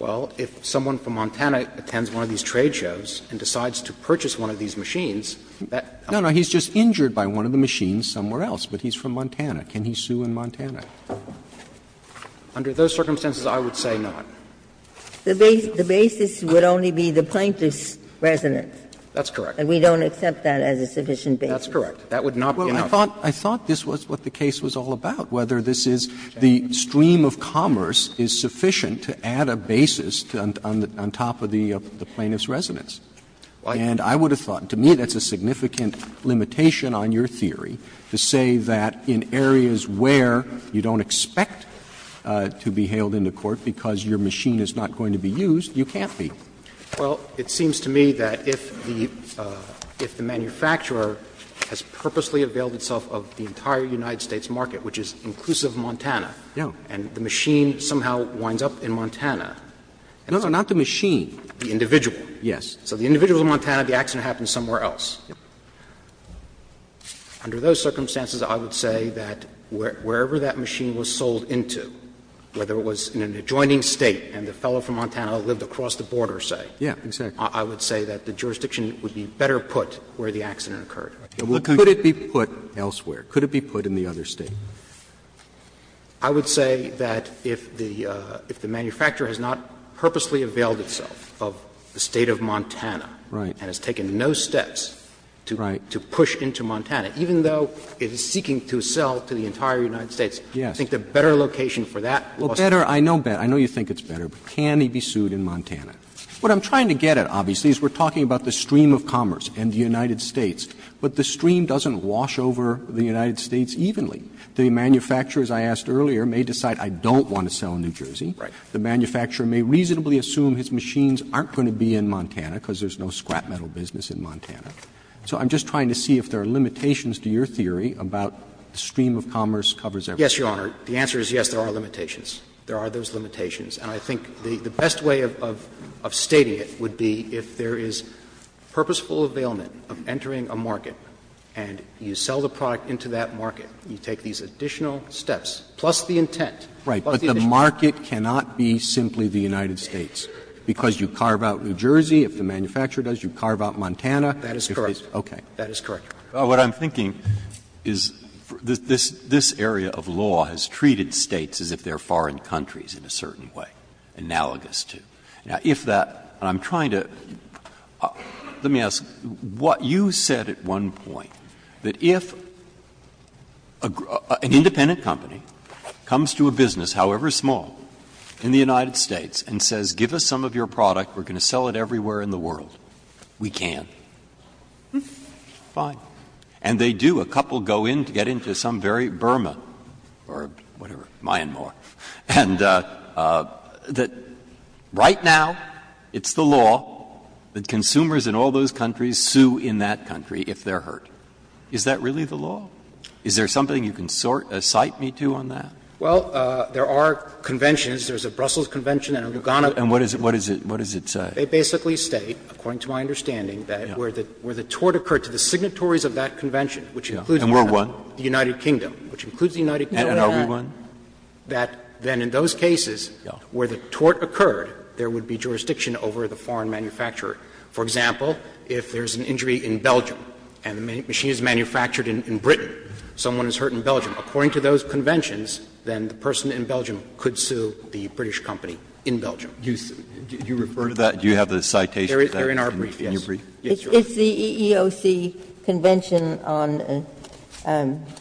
Well, if someone from Montana attends one of these trade shows and decides to purchase one of these machines, that's not a problem. No, no, he's just injured by one of the machines somewhere else, but he's from Montana. Can he sue in Montana? Under those circumstances, I would say not. The basis would only be the plaintiff's residence. That's correct. And we don't accept that as a sufficient basis. That's correct. That would not be an option. Well, I thought this was what the case was all about, whether this is the stream of commerce is sufficient to add a basis on top of the plaintiff's residence. And I would have thought, to me, that's a significant limitation on your theory to say that in areas where you don't expect to be hailed into court because your machine is not going to be used, you can't be. Well, it seems to me that if the manufacturer has purposely availed itself of the entire United States market, which is inclusive Montana, and the machine somehow winds up in Montana. No, no, not the machine. The individual. Yes. So the individual in Montana, the accident happened somewhere else. Under those circumstances, I would say that wherever that machine was sold into, whether it was in an adjoining State and the fellow from Montana lived across the border, say, I would say that the jurisdiction would be better put where the accident occurred. Could it be put elsewhere? Could it be put in the other State? I would say that if the manufacturer has not purposely availed itself of the State of Montana and has taken no steps to push into Montana, even though it is seeking to sell to the entire United States, I think the better location for that also. Well, better, I know better, I know you think it's better, but can he be sued in Montana? What I'm trying to get at, obviously, is we're talking about the stream of commerce in the United States, but the stream doesn't wash over the United States evenly. The manufacturer, as I asked earlier, may decide I don't want to sell in New Jersey. Right. The manufacturer may reasonably assume his machines aren't going to be in Montana because there's no scrap metal business in Montana. So I'm just trying to see if there are limitations to your theory about the stream of commerce covers everything. Yes, Your Honor. The answer is yes, there are limitations. There are those limitations. And I think the best way of stating it would be if there is purposeful availment of entering a market and you sell the product into that market, you take these additional steps, plus the intent. Right. But the market cannot be simply the United States, because you carve out New Jersey. If the manufacturer does, you carve out Montana. That is correct. Okay. That is correct. What I'm thinking is this area of law has treated States as if they are foreign countries in a certain way, analogous to. Now, if that — and I'm trying to — let me ask, what you said at one point, that if an independent company comes to a business, however small, in the United States and says, give us some of your product, we're going to sell it everywhere in the world, we can. Fine. And they do. A couple go in to get into some very Burma or whatever, Myanmar, and that right now it's the law that consumers in all those countries sue in that country if they're hurt. Is that really the law? Is there something you can cite me to on that? Well, there are conventions. There's a Brussels Convention and a Lugano Convention. And what does it say? They basically state, according to my understanding, that where the tort occurred to the signatories of that convention, which includes the United Kingdom, which includes the United Kingdom. And are we one? That then in those cases where the tort occurred, there would be jurisdiction over the foreign manufacturer. For example, if there's an injury in Belgium and the machine is manufactured in Britain, someone is hurt in Belgium, according to those conventions, then the person in Belgium could sue the British company in Belgium. You refer to that? Do you have the citation to that? You're in our brief, yes. It's the EEOC Convention on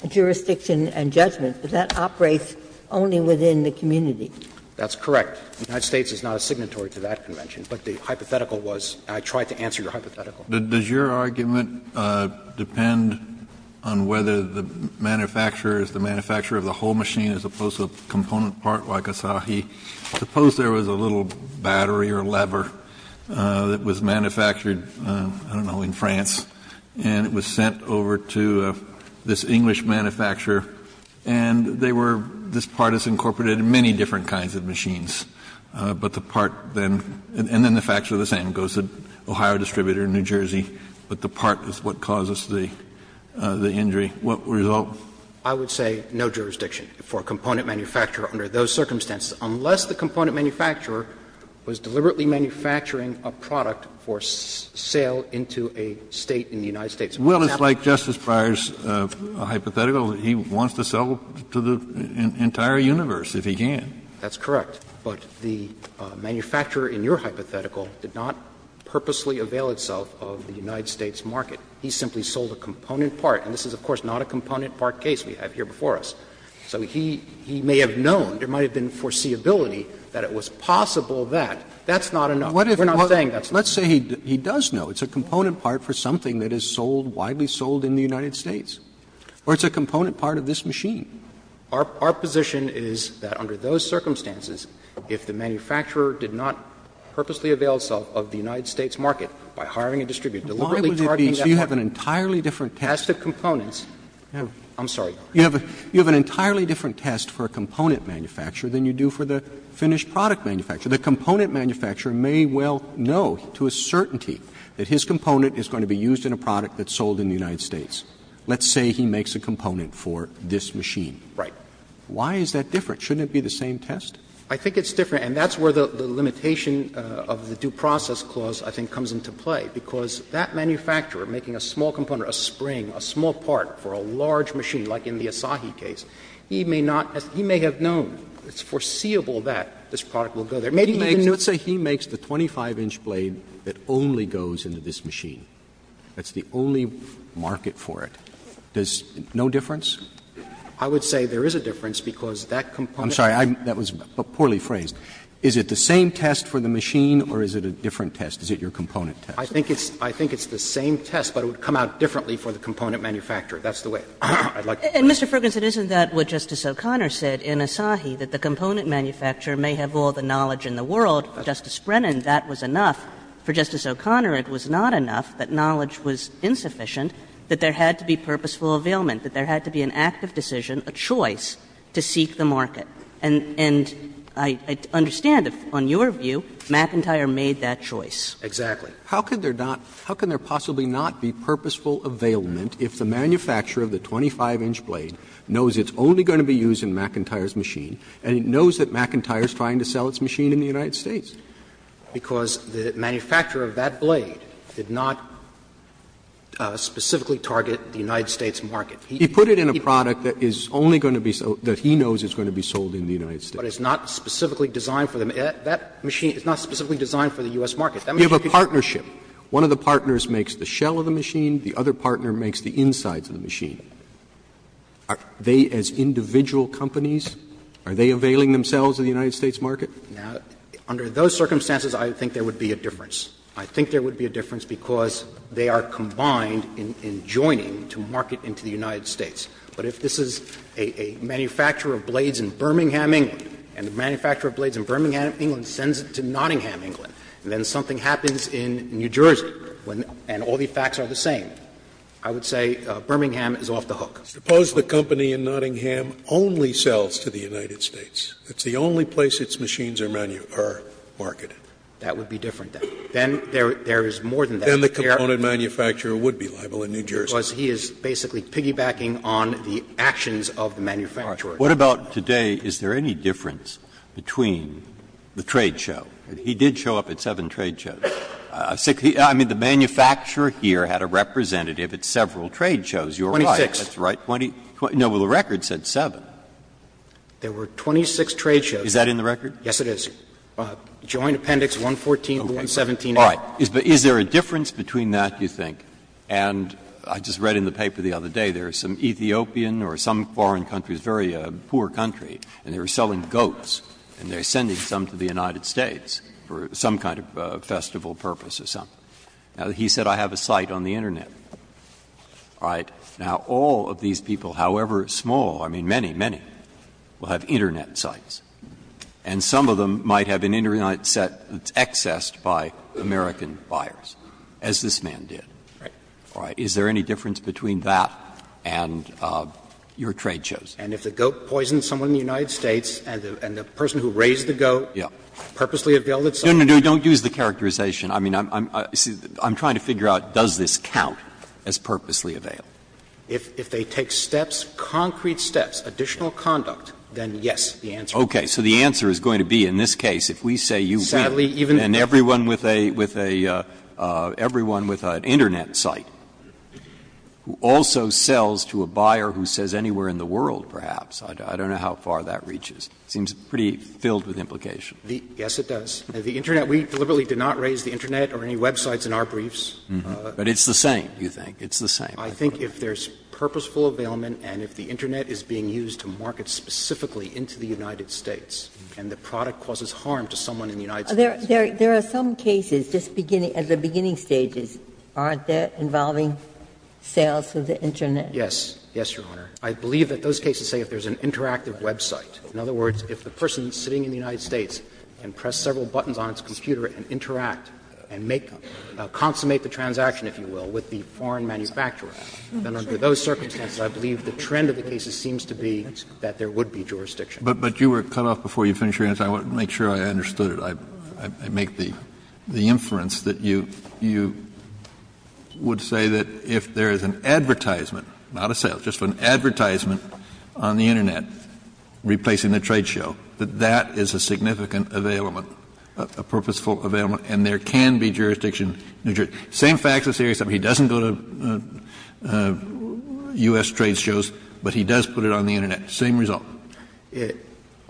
Jurisdiction and Judgment, but that operates only within the community. That's correct. The United States is not a signatory to that convention, but the hypothetical was and I tried to answer your hypothetical. Kennedy, does your argument depend on whether the manufacturer is the manufacturer of the whole machine as opposed to a component part like a sahi? Suppose there was a little battery or lever that was manufactured, I don't know, in France, and it was sent over to this English manufacturer and they were, this is the part that was manufactured in France, but the part then, and then the facts are the same, it goes to Ohio Distributor in New Jersey, but the part is what causes the injury. What result? I would say no jurisdiction for a component manufacturer under those circumstances, unless the component manufacturer was deliberately manufacturing a product for sale into a State in the United States. Well, it's like Justice Breyer's hypothetical. He wants to sell to the entire universe, if he can. That's correct. But the manufacturer in your hypothetical did not purposely avail itself of the United States market. He simply sold a component part, and this is, of course, not a component part case we have here before us. So he may have known, there might have been foreseeability that it was possible That's not a no. We're not saying that's not a no. Let's say he does know it's a component part for something that is sold, widely sold in the United States. Or it's a component part of this machine. Our position is that under those circumstances, if the manufacturer did not purposely avail itself of the United States market by hiring a distributor, deliberately targeting that part. So you have an entirely different test. As to components, I'm sorry. You have an entirely different test for a component manufacturer than you do for the finished product manufacturer. The component manufacturer may well know to a certainty that his component is going to be used in a product that's sold in the United States. Let's say he makes a component for this machine. Right. Why is that different? Shouldn't it be the same test? I think it's different, and that's where the limitation of the Due Process Clause I think comes into play, because that manufacturer making a small component, a spring, a small part for a large machine, like in the Asahi case, he may not as he may have known, it's foreseeable that this product will go there. Maybe he didn't know. Let's say he makes the 25-inch blade that only goes into this machine. That's the only market for it. Does no difference? I would say there is a difference, because that component. I'm sorry. That was poorly phrased. Is it the same test for the machine or is it a different test? Is it your component test? I think it's the same test, but it would come out differently for the component manufacturer. That's the way I'd like to put it. And, Mr. Ferguson, isn't that what Justice O'Connor said in Asahi, that the component manufacturer may have all the knowledge in the world? Justice Brennan, that was enough. For Justice O'Connor, it was not enough that knowledge was insufficient, that there had to be purposeful availment, that there had to be an active decision, a choice to seek the market. And I understand, on your view, McIntyre made that choice. Exactly. How could there not be purposeful availment if the manufacturer of the 25-inch blade knows it's only going to be used in McIntyre's machine and it knows that McIntyre's trying to sell its machine in the United States? Because the manufacturer of that blade did not specifically target the United States market. He put it in a product that is only going to be sold that he knows is going to be sold in the United States. But it's not specifically designed for the US market. You have a partnership. One of the partners makes the shell of the machine, the other partner makes the insides of the machine. Are they, as individual companies, are they availing themselves of the United States market? Now, under those circumstances, I think there would be a difference. I think there would be a difference because they are combined in joining to market into the United States. But if this is a manufacturer of blades in Birmingham, England, and the manufacturer of blades in Birmingham, England sends it to Nottingham, England, and then something happens in New Jersey and all the facts are the same, I would say Birmingham is off the hook. Scalia. Suppose the company in Nottingham only sells to the United States. It's the only place its machines are marketed. That would be different. Then there is more than that. Then the component manufacturer would be liable in New Jersey. Because he is basically piggybacking on the actions of the manufacturer. What about today? Is there any difference between the trade show? He did show up at seven trade shows. I mean, the manufacturer here had a representative at several trade shows. You're right. Twenty-six. That's right. Twenty — no, the record said seven. There were 26 trade shows. Is that in the record? Yes, it is. Joint appendix 114 to 117. All right. Is there a difference between that, you think? And I just read in the paper the other day there is some Ethiopian or some foreign country, a very poor country, and they were selling goats and they are sending some to the United States for some kind of festival purpose or something. Now, he said I have a site on the Internet. All right. Now, all of these people, however small, I mean, many, many, will have Internet sites, and some of them might have an Internet site that's accessed by American buyers, as this man did. Right. All right. Is there any difference between that and your trade shows? And if the goat poisons someone in the United States and the person who raised the goat purposely availed itself. No, no, no. Don't use the characterization. I mean, I'm trying to figure out does this count as purposely availed. If they take steps, concrete steps, additional conduct, then yes, the answer is yes. Okay. So the answer is going to be in this case, if we say you win, and everyone with a – everyone with an Internet site who also sells to a buyer who says anywhere in the world, perhaps, I don't know how far that reaches. It seems pretty filled with implication. Yes, it does. The Internet, we deliberately did not raise the Internet or any websites in our briefs. But it's the same, you think? It's the same. I think if there's purposeful availment and if the Internet is being used to market specifically into the United States and the product causes harm to someone in the United States. There are some cases, just beginning, at the beginning stages, aren't there, involving sales of the Internet? Yes. Yes, Your Honor. I believe that those cases say if there's an interactive website. In other words, if the person sitting in the United States can press several buttons on its computer and interact and make them, consummate the transaction, if you will, with the foreign manufacturer, then under those circumstances, I believe the trend of the cases seems to be that there would be jurisdiction. But you were cut off before you finished your answer. I want to make sure I understood it. I make the inference that you would say that if there is an advertisement, not a sale, just an advertisement on the Internet replacing the trade show, that that is a significant availment, a purposeful availment, and there can be jurisdiction in New Jersey. Same facts as here, except he doesn't go to U.S. trade shows, but he does put it on the Internet. Same result.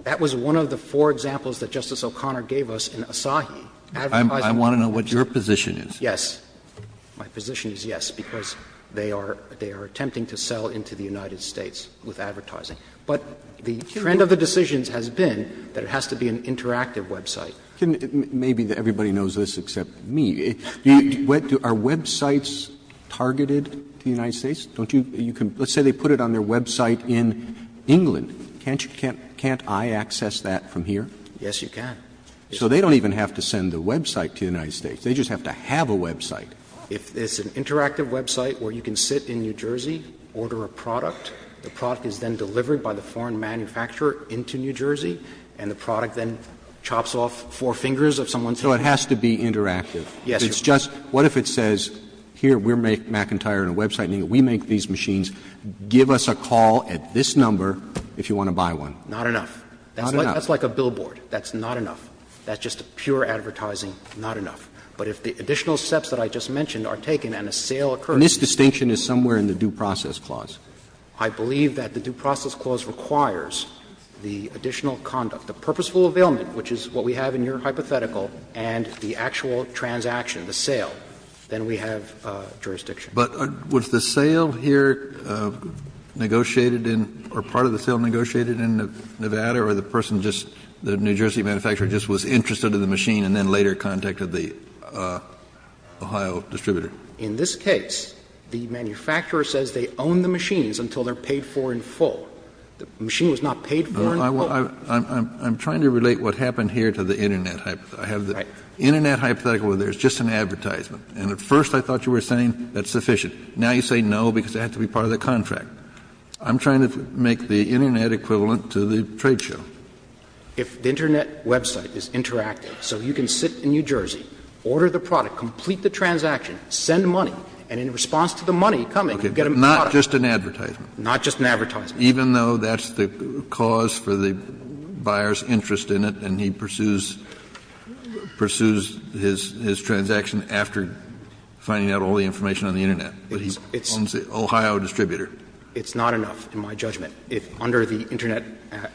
That was one of the four examples that Justice O'Connor gave us in Asahi. I want to know what your position is. Yes. My position is yes, because they are attempting to sell into the United States with advertising. But the trend of the decisions has been that it has to be an interactive website. Maybe everybody knows this except me. Are websites targeted to the United States? Let's say they put it on their website in England. Can't I access that from here? Yes, you can. So they don't even have to send the website to the United States. They just have to have a website. It's an interactive website where you can sit in New Jersey, order a product. The product is then delivered by the foreign manufacturer into New Jersey, and the four fingers of someone's hand. So it has to be interactive. Yes. It's just, what if it says, here, we make McIntyre in a website, and we make these machines. Give us a call at this number if you want to buy one. Not enough. Not enough. That's like a billboard. That's not enough. That's just pure advertising, not enough. But if the additional steps that I just mentioned are taken and a sale occurs. And this distinction is somewhere in the Due Process Clause. I believe that the Due Process Clause requires the additional conduct, the purposeful availment, which is what we have in your hypothetical, and the actual transaction, the sale, then we have jurisdiction. Kennedy. But was the sale here negotiated in or part of the sale negotiated in Nevada or the person just, the New Jersey manufacturer just was interested in the machine and then later contacted the Ohio distributor? In this case, the manufacturer says they own the machines until they're paid for in full. The machine was not paid for in full. I'm trying to relate what happened here to the Internet hypothetical. I have the Internet hypothetical where there's just an advertisement. And at first I thought you were saying that's sufficient. Now you say no because it had to be part of the contract. I'm trying to make the Internet equivalent to the trade show. If the Internet website is interactive, so you can sit in New Jersey, order the product, complete the transaction, send money, and in response to the money coming, you get a product. Not just an advertisement. Not just an advertisement. Even though that's the cause for the buyer's interest in it and he pursues his transaction after finding out all the information on the Internet, but he owns the Ohio distributor. It's not enough, in my judgment, under the Internet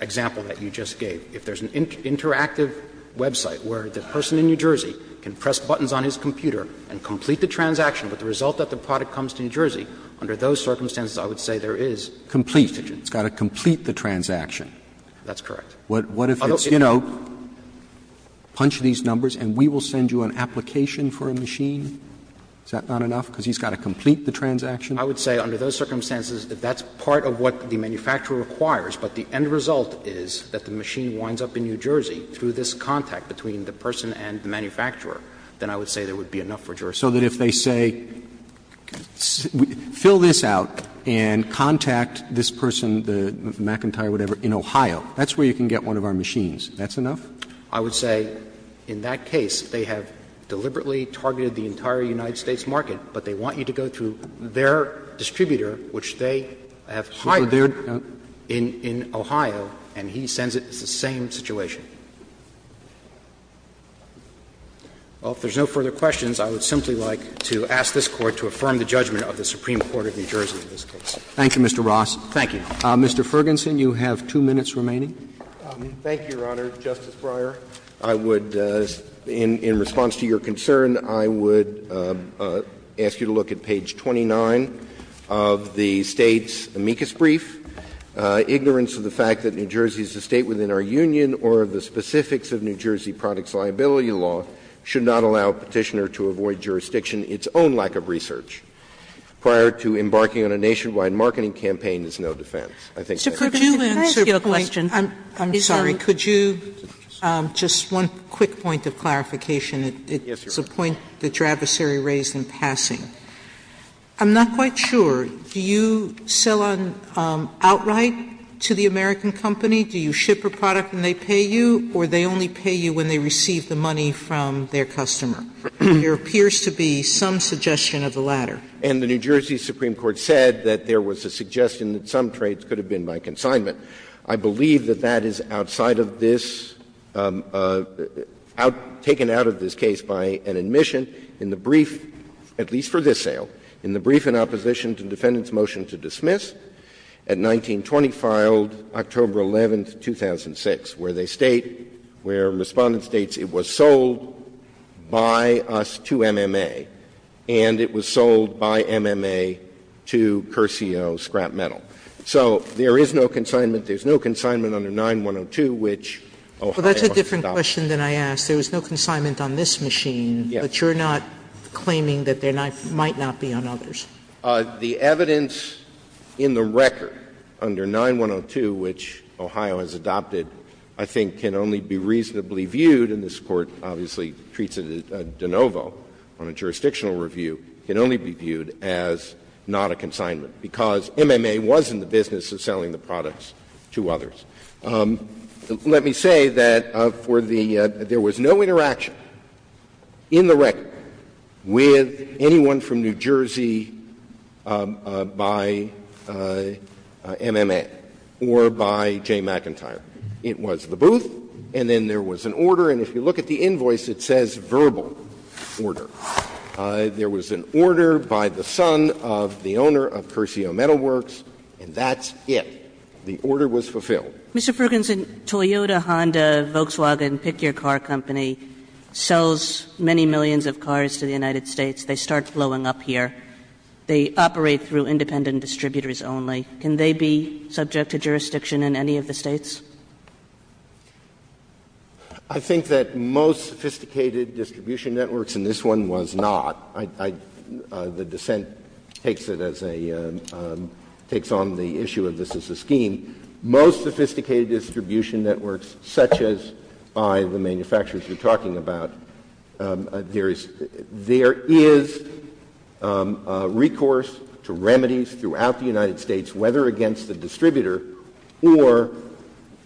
example that you just gave. If there's an interactive website where the person in New Jersey can press buttons on his computer and complete the transaction, but the result that the product comes to New Jersey, under those circumstances, I would say there is a distinction. Roberts. It's got to complete the transaction. That's correct. What if it's, you know, punch these numbers and we will send you an application for a machine? Is that not enough, because he's got to complete the transaction? I would say under those circumstances, if that's part of what the manufacturer requires, but the end result is that the machine winds up in New Jersey through this contact between the person and the manufacturer, then I would say there would be enough for jurisdiction. So that if they say, fill this out and contact this person, the McIntyre, whatever, in Ohio, that's where you can get one of our machines. That's enough? I would say in that case, they have deliberately targeted the entire United States market, but they want you to go to their distributor, which they have hired in Ohio, and he sends it, it's the same situation. Well, if there's no further questions, I would simply like to ask this Court to affirm the judgment of the Supreme Court of New Jersey in this case. Roberts. Thank you, Mr. Ross. Thank you. Mr. Fergenson, you have two minutes remaining. Thank you, Your Honor. Justice Breyer, I would, in response to your concern, I would ask you to look at page 29 of the State's amicus brief, Ignorance of the Fact that New Jersey is a State within our Union or of the Specifics of New Jersey Products Liability Law, should not allow Petitioner to avoid jurisdiction, its own lack of research, prior to embarking on a nationwide marketing campaign is no defense. I think that's it. Could you answer a question? I'm sorry. Could you, just one quick point of clarification. It's a point that your adversary raised in passing. I'm not quite sure. Do you sell outright to the American company? Do you ship a product and they pay you, or they only pay you when they receive the money from their customer? There appears to be some suggestion of the latter. And the New Jersey Supreme Court said that there was a suggestion that some trades could have been by consignment. I believe that that is outside of this, taken out of this case by an admission in the brief, at least for this sale, in the brief in opposition to the defendant's motion to dismiss, at 1920 filed, October 11, 2006, where they state, where Respondent states it was sold by us to MMA, and it was sold by MMA to Curcio Scrap Metal. So there is no consignment, there's no consignment under 9-102, which Ohio must stop. Sotomayor Well, that's a different question than I asked. There was no consignment on this machine. But you're not claiming that there might not be on others? The evidence in the record under 9-102, which Ohio has adopted, I think can only be reasonably viewed, and this Court obviously treats it as de novo on a jurisdictional review, can only be viewed as not a consignment, because MMA was in the business of selling the products to others. Let me say that for the — there was no interaction in the record with anyone from New Jersey by MMA or by Jay McIntyre. It was the booth, and then there was an order, and if you look at the invoice, it says verbal order. There was an order by the son of the owner of Curcio Metalworks, and that's it. The order was fulfilled. Kagan Mr. Fergenson, Toyota, Honda, Volkswagen, pick your car company, sells many millions of cars to the United States. They start flowing up here. They operate through independent distributors only. Can they be subject to jurisdiction in any of the States? Fergenson I think that most sophisticated distribution networks, and this one was not, the dissent takes it as a — takes on the issue of this as a scheme, most sophisticated distribution networks such as by the manufacturers you're talking about, there is — there is recourse to remedies throughout the United States, whether against the distributor or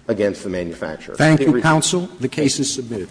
against the manufacturer. Thank you, counsel. The case is submitted.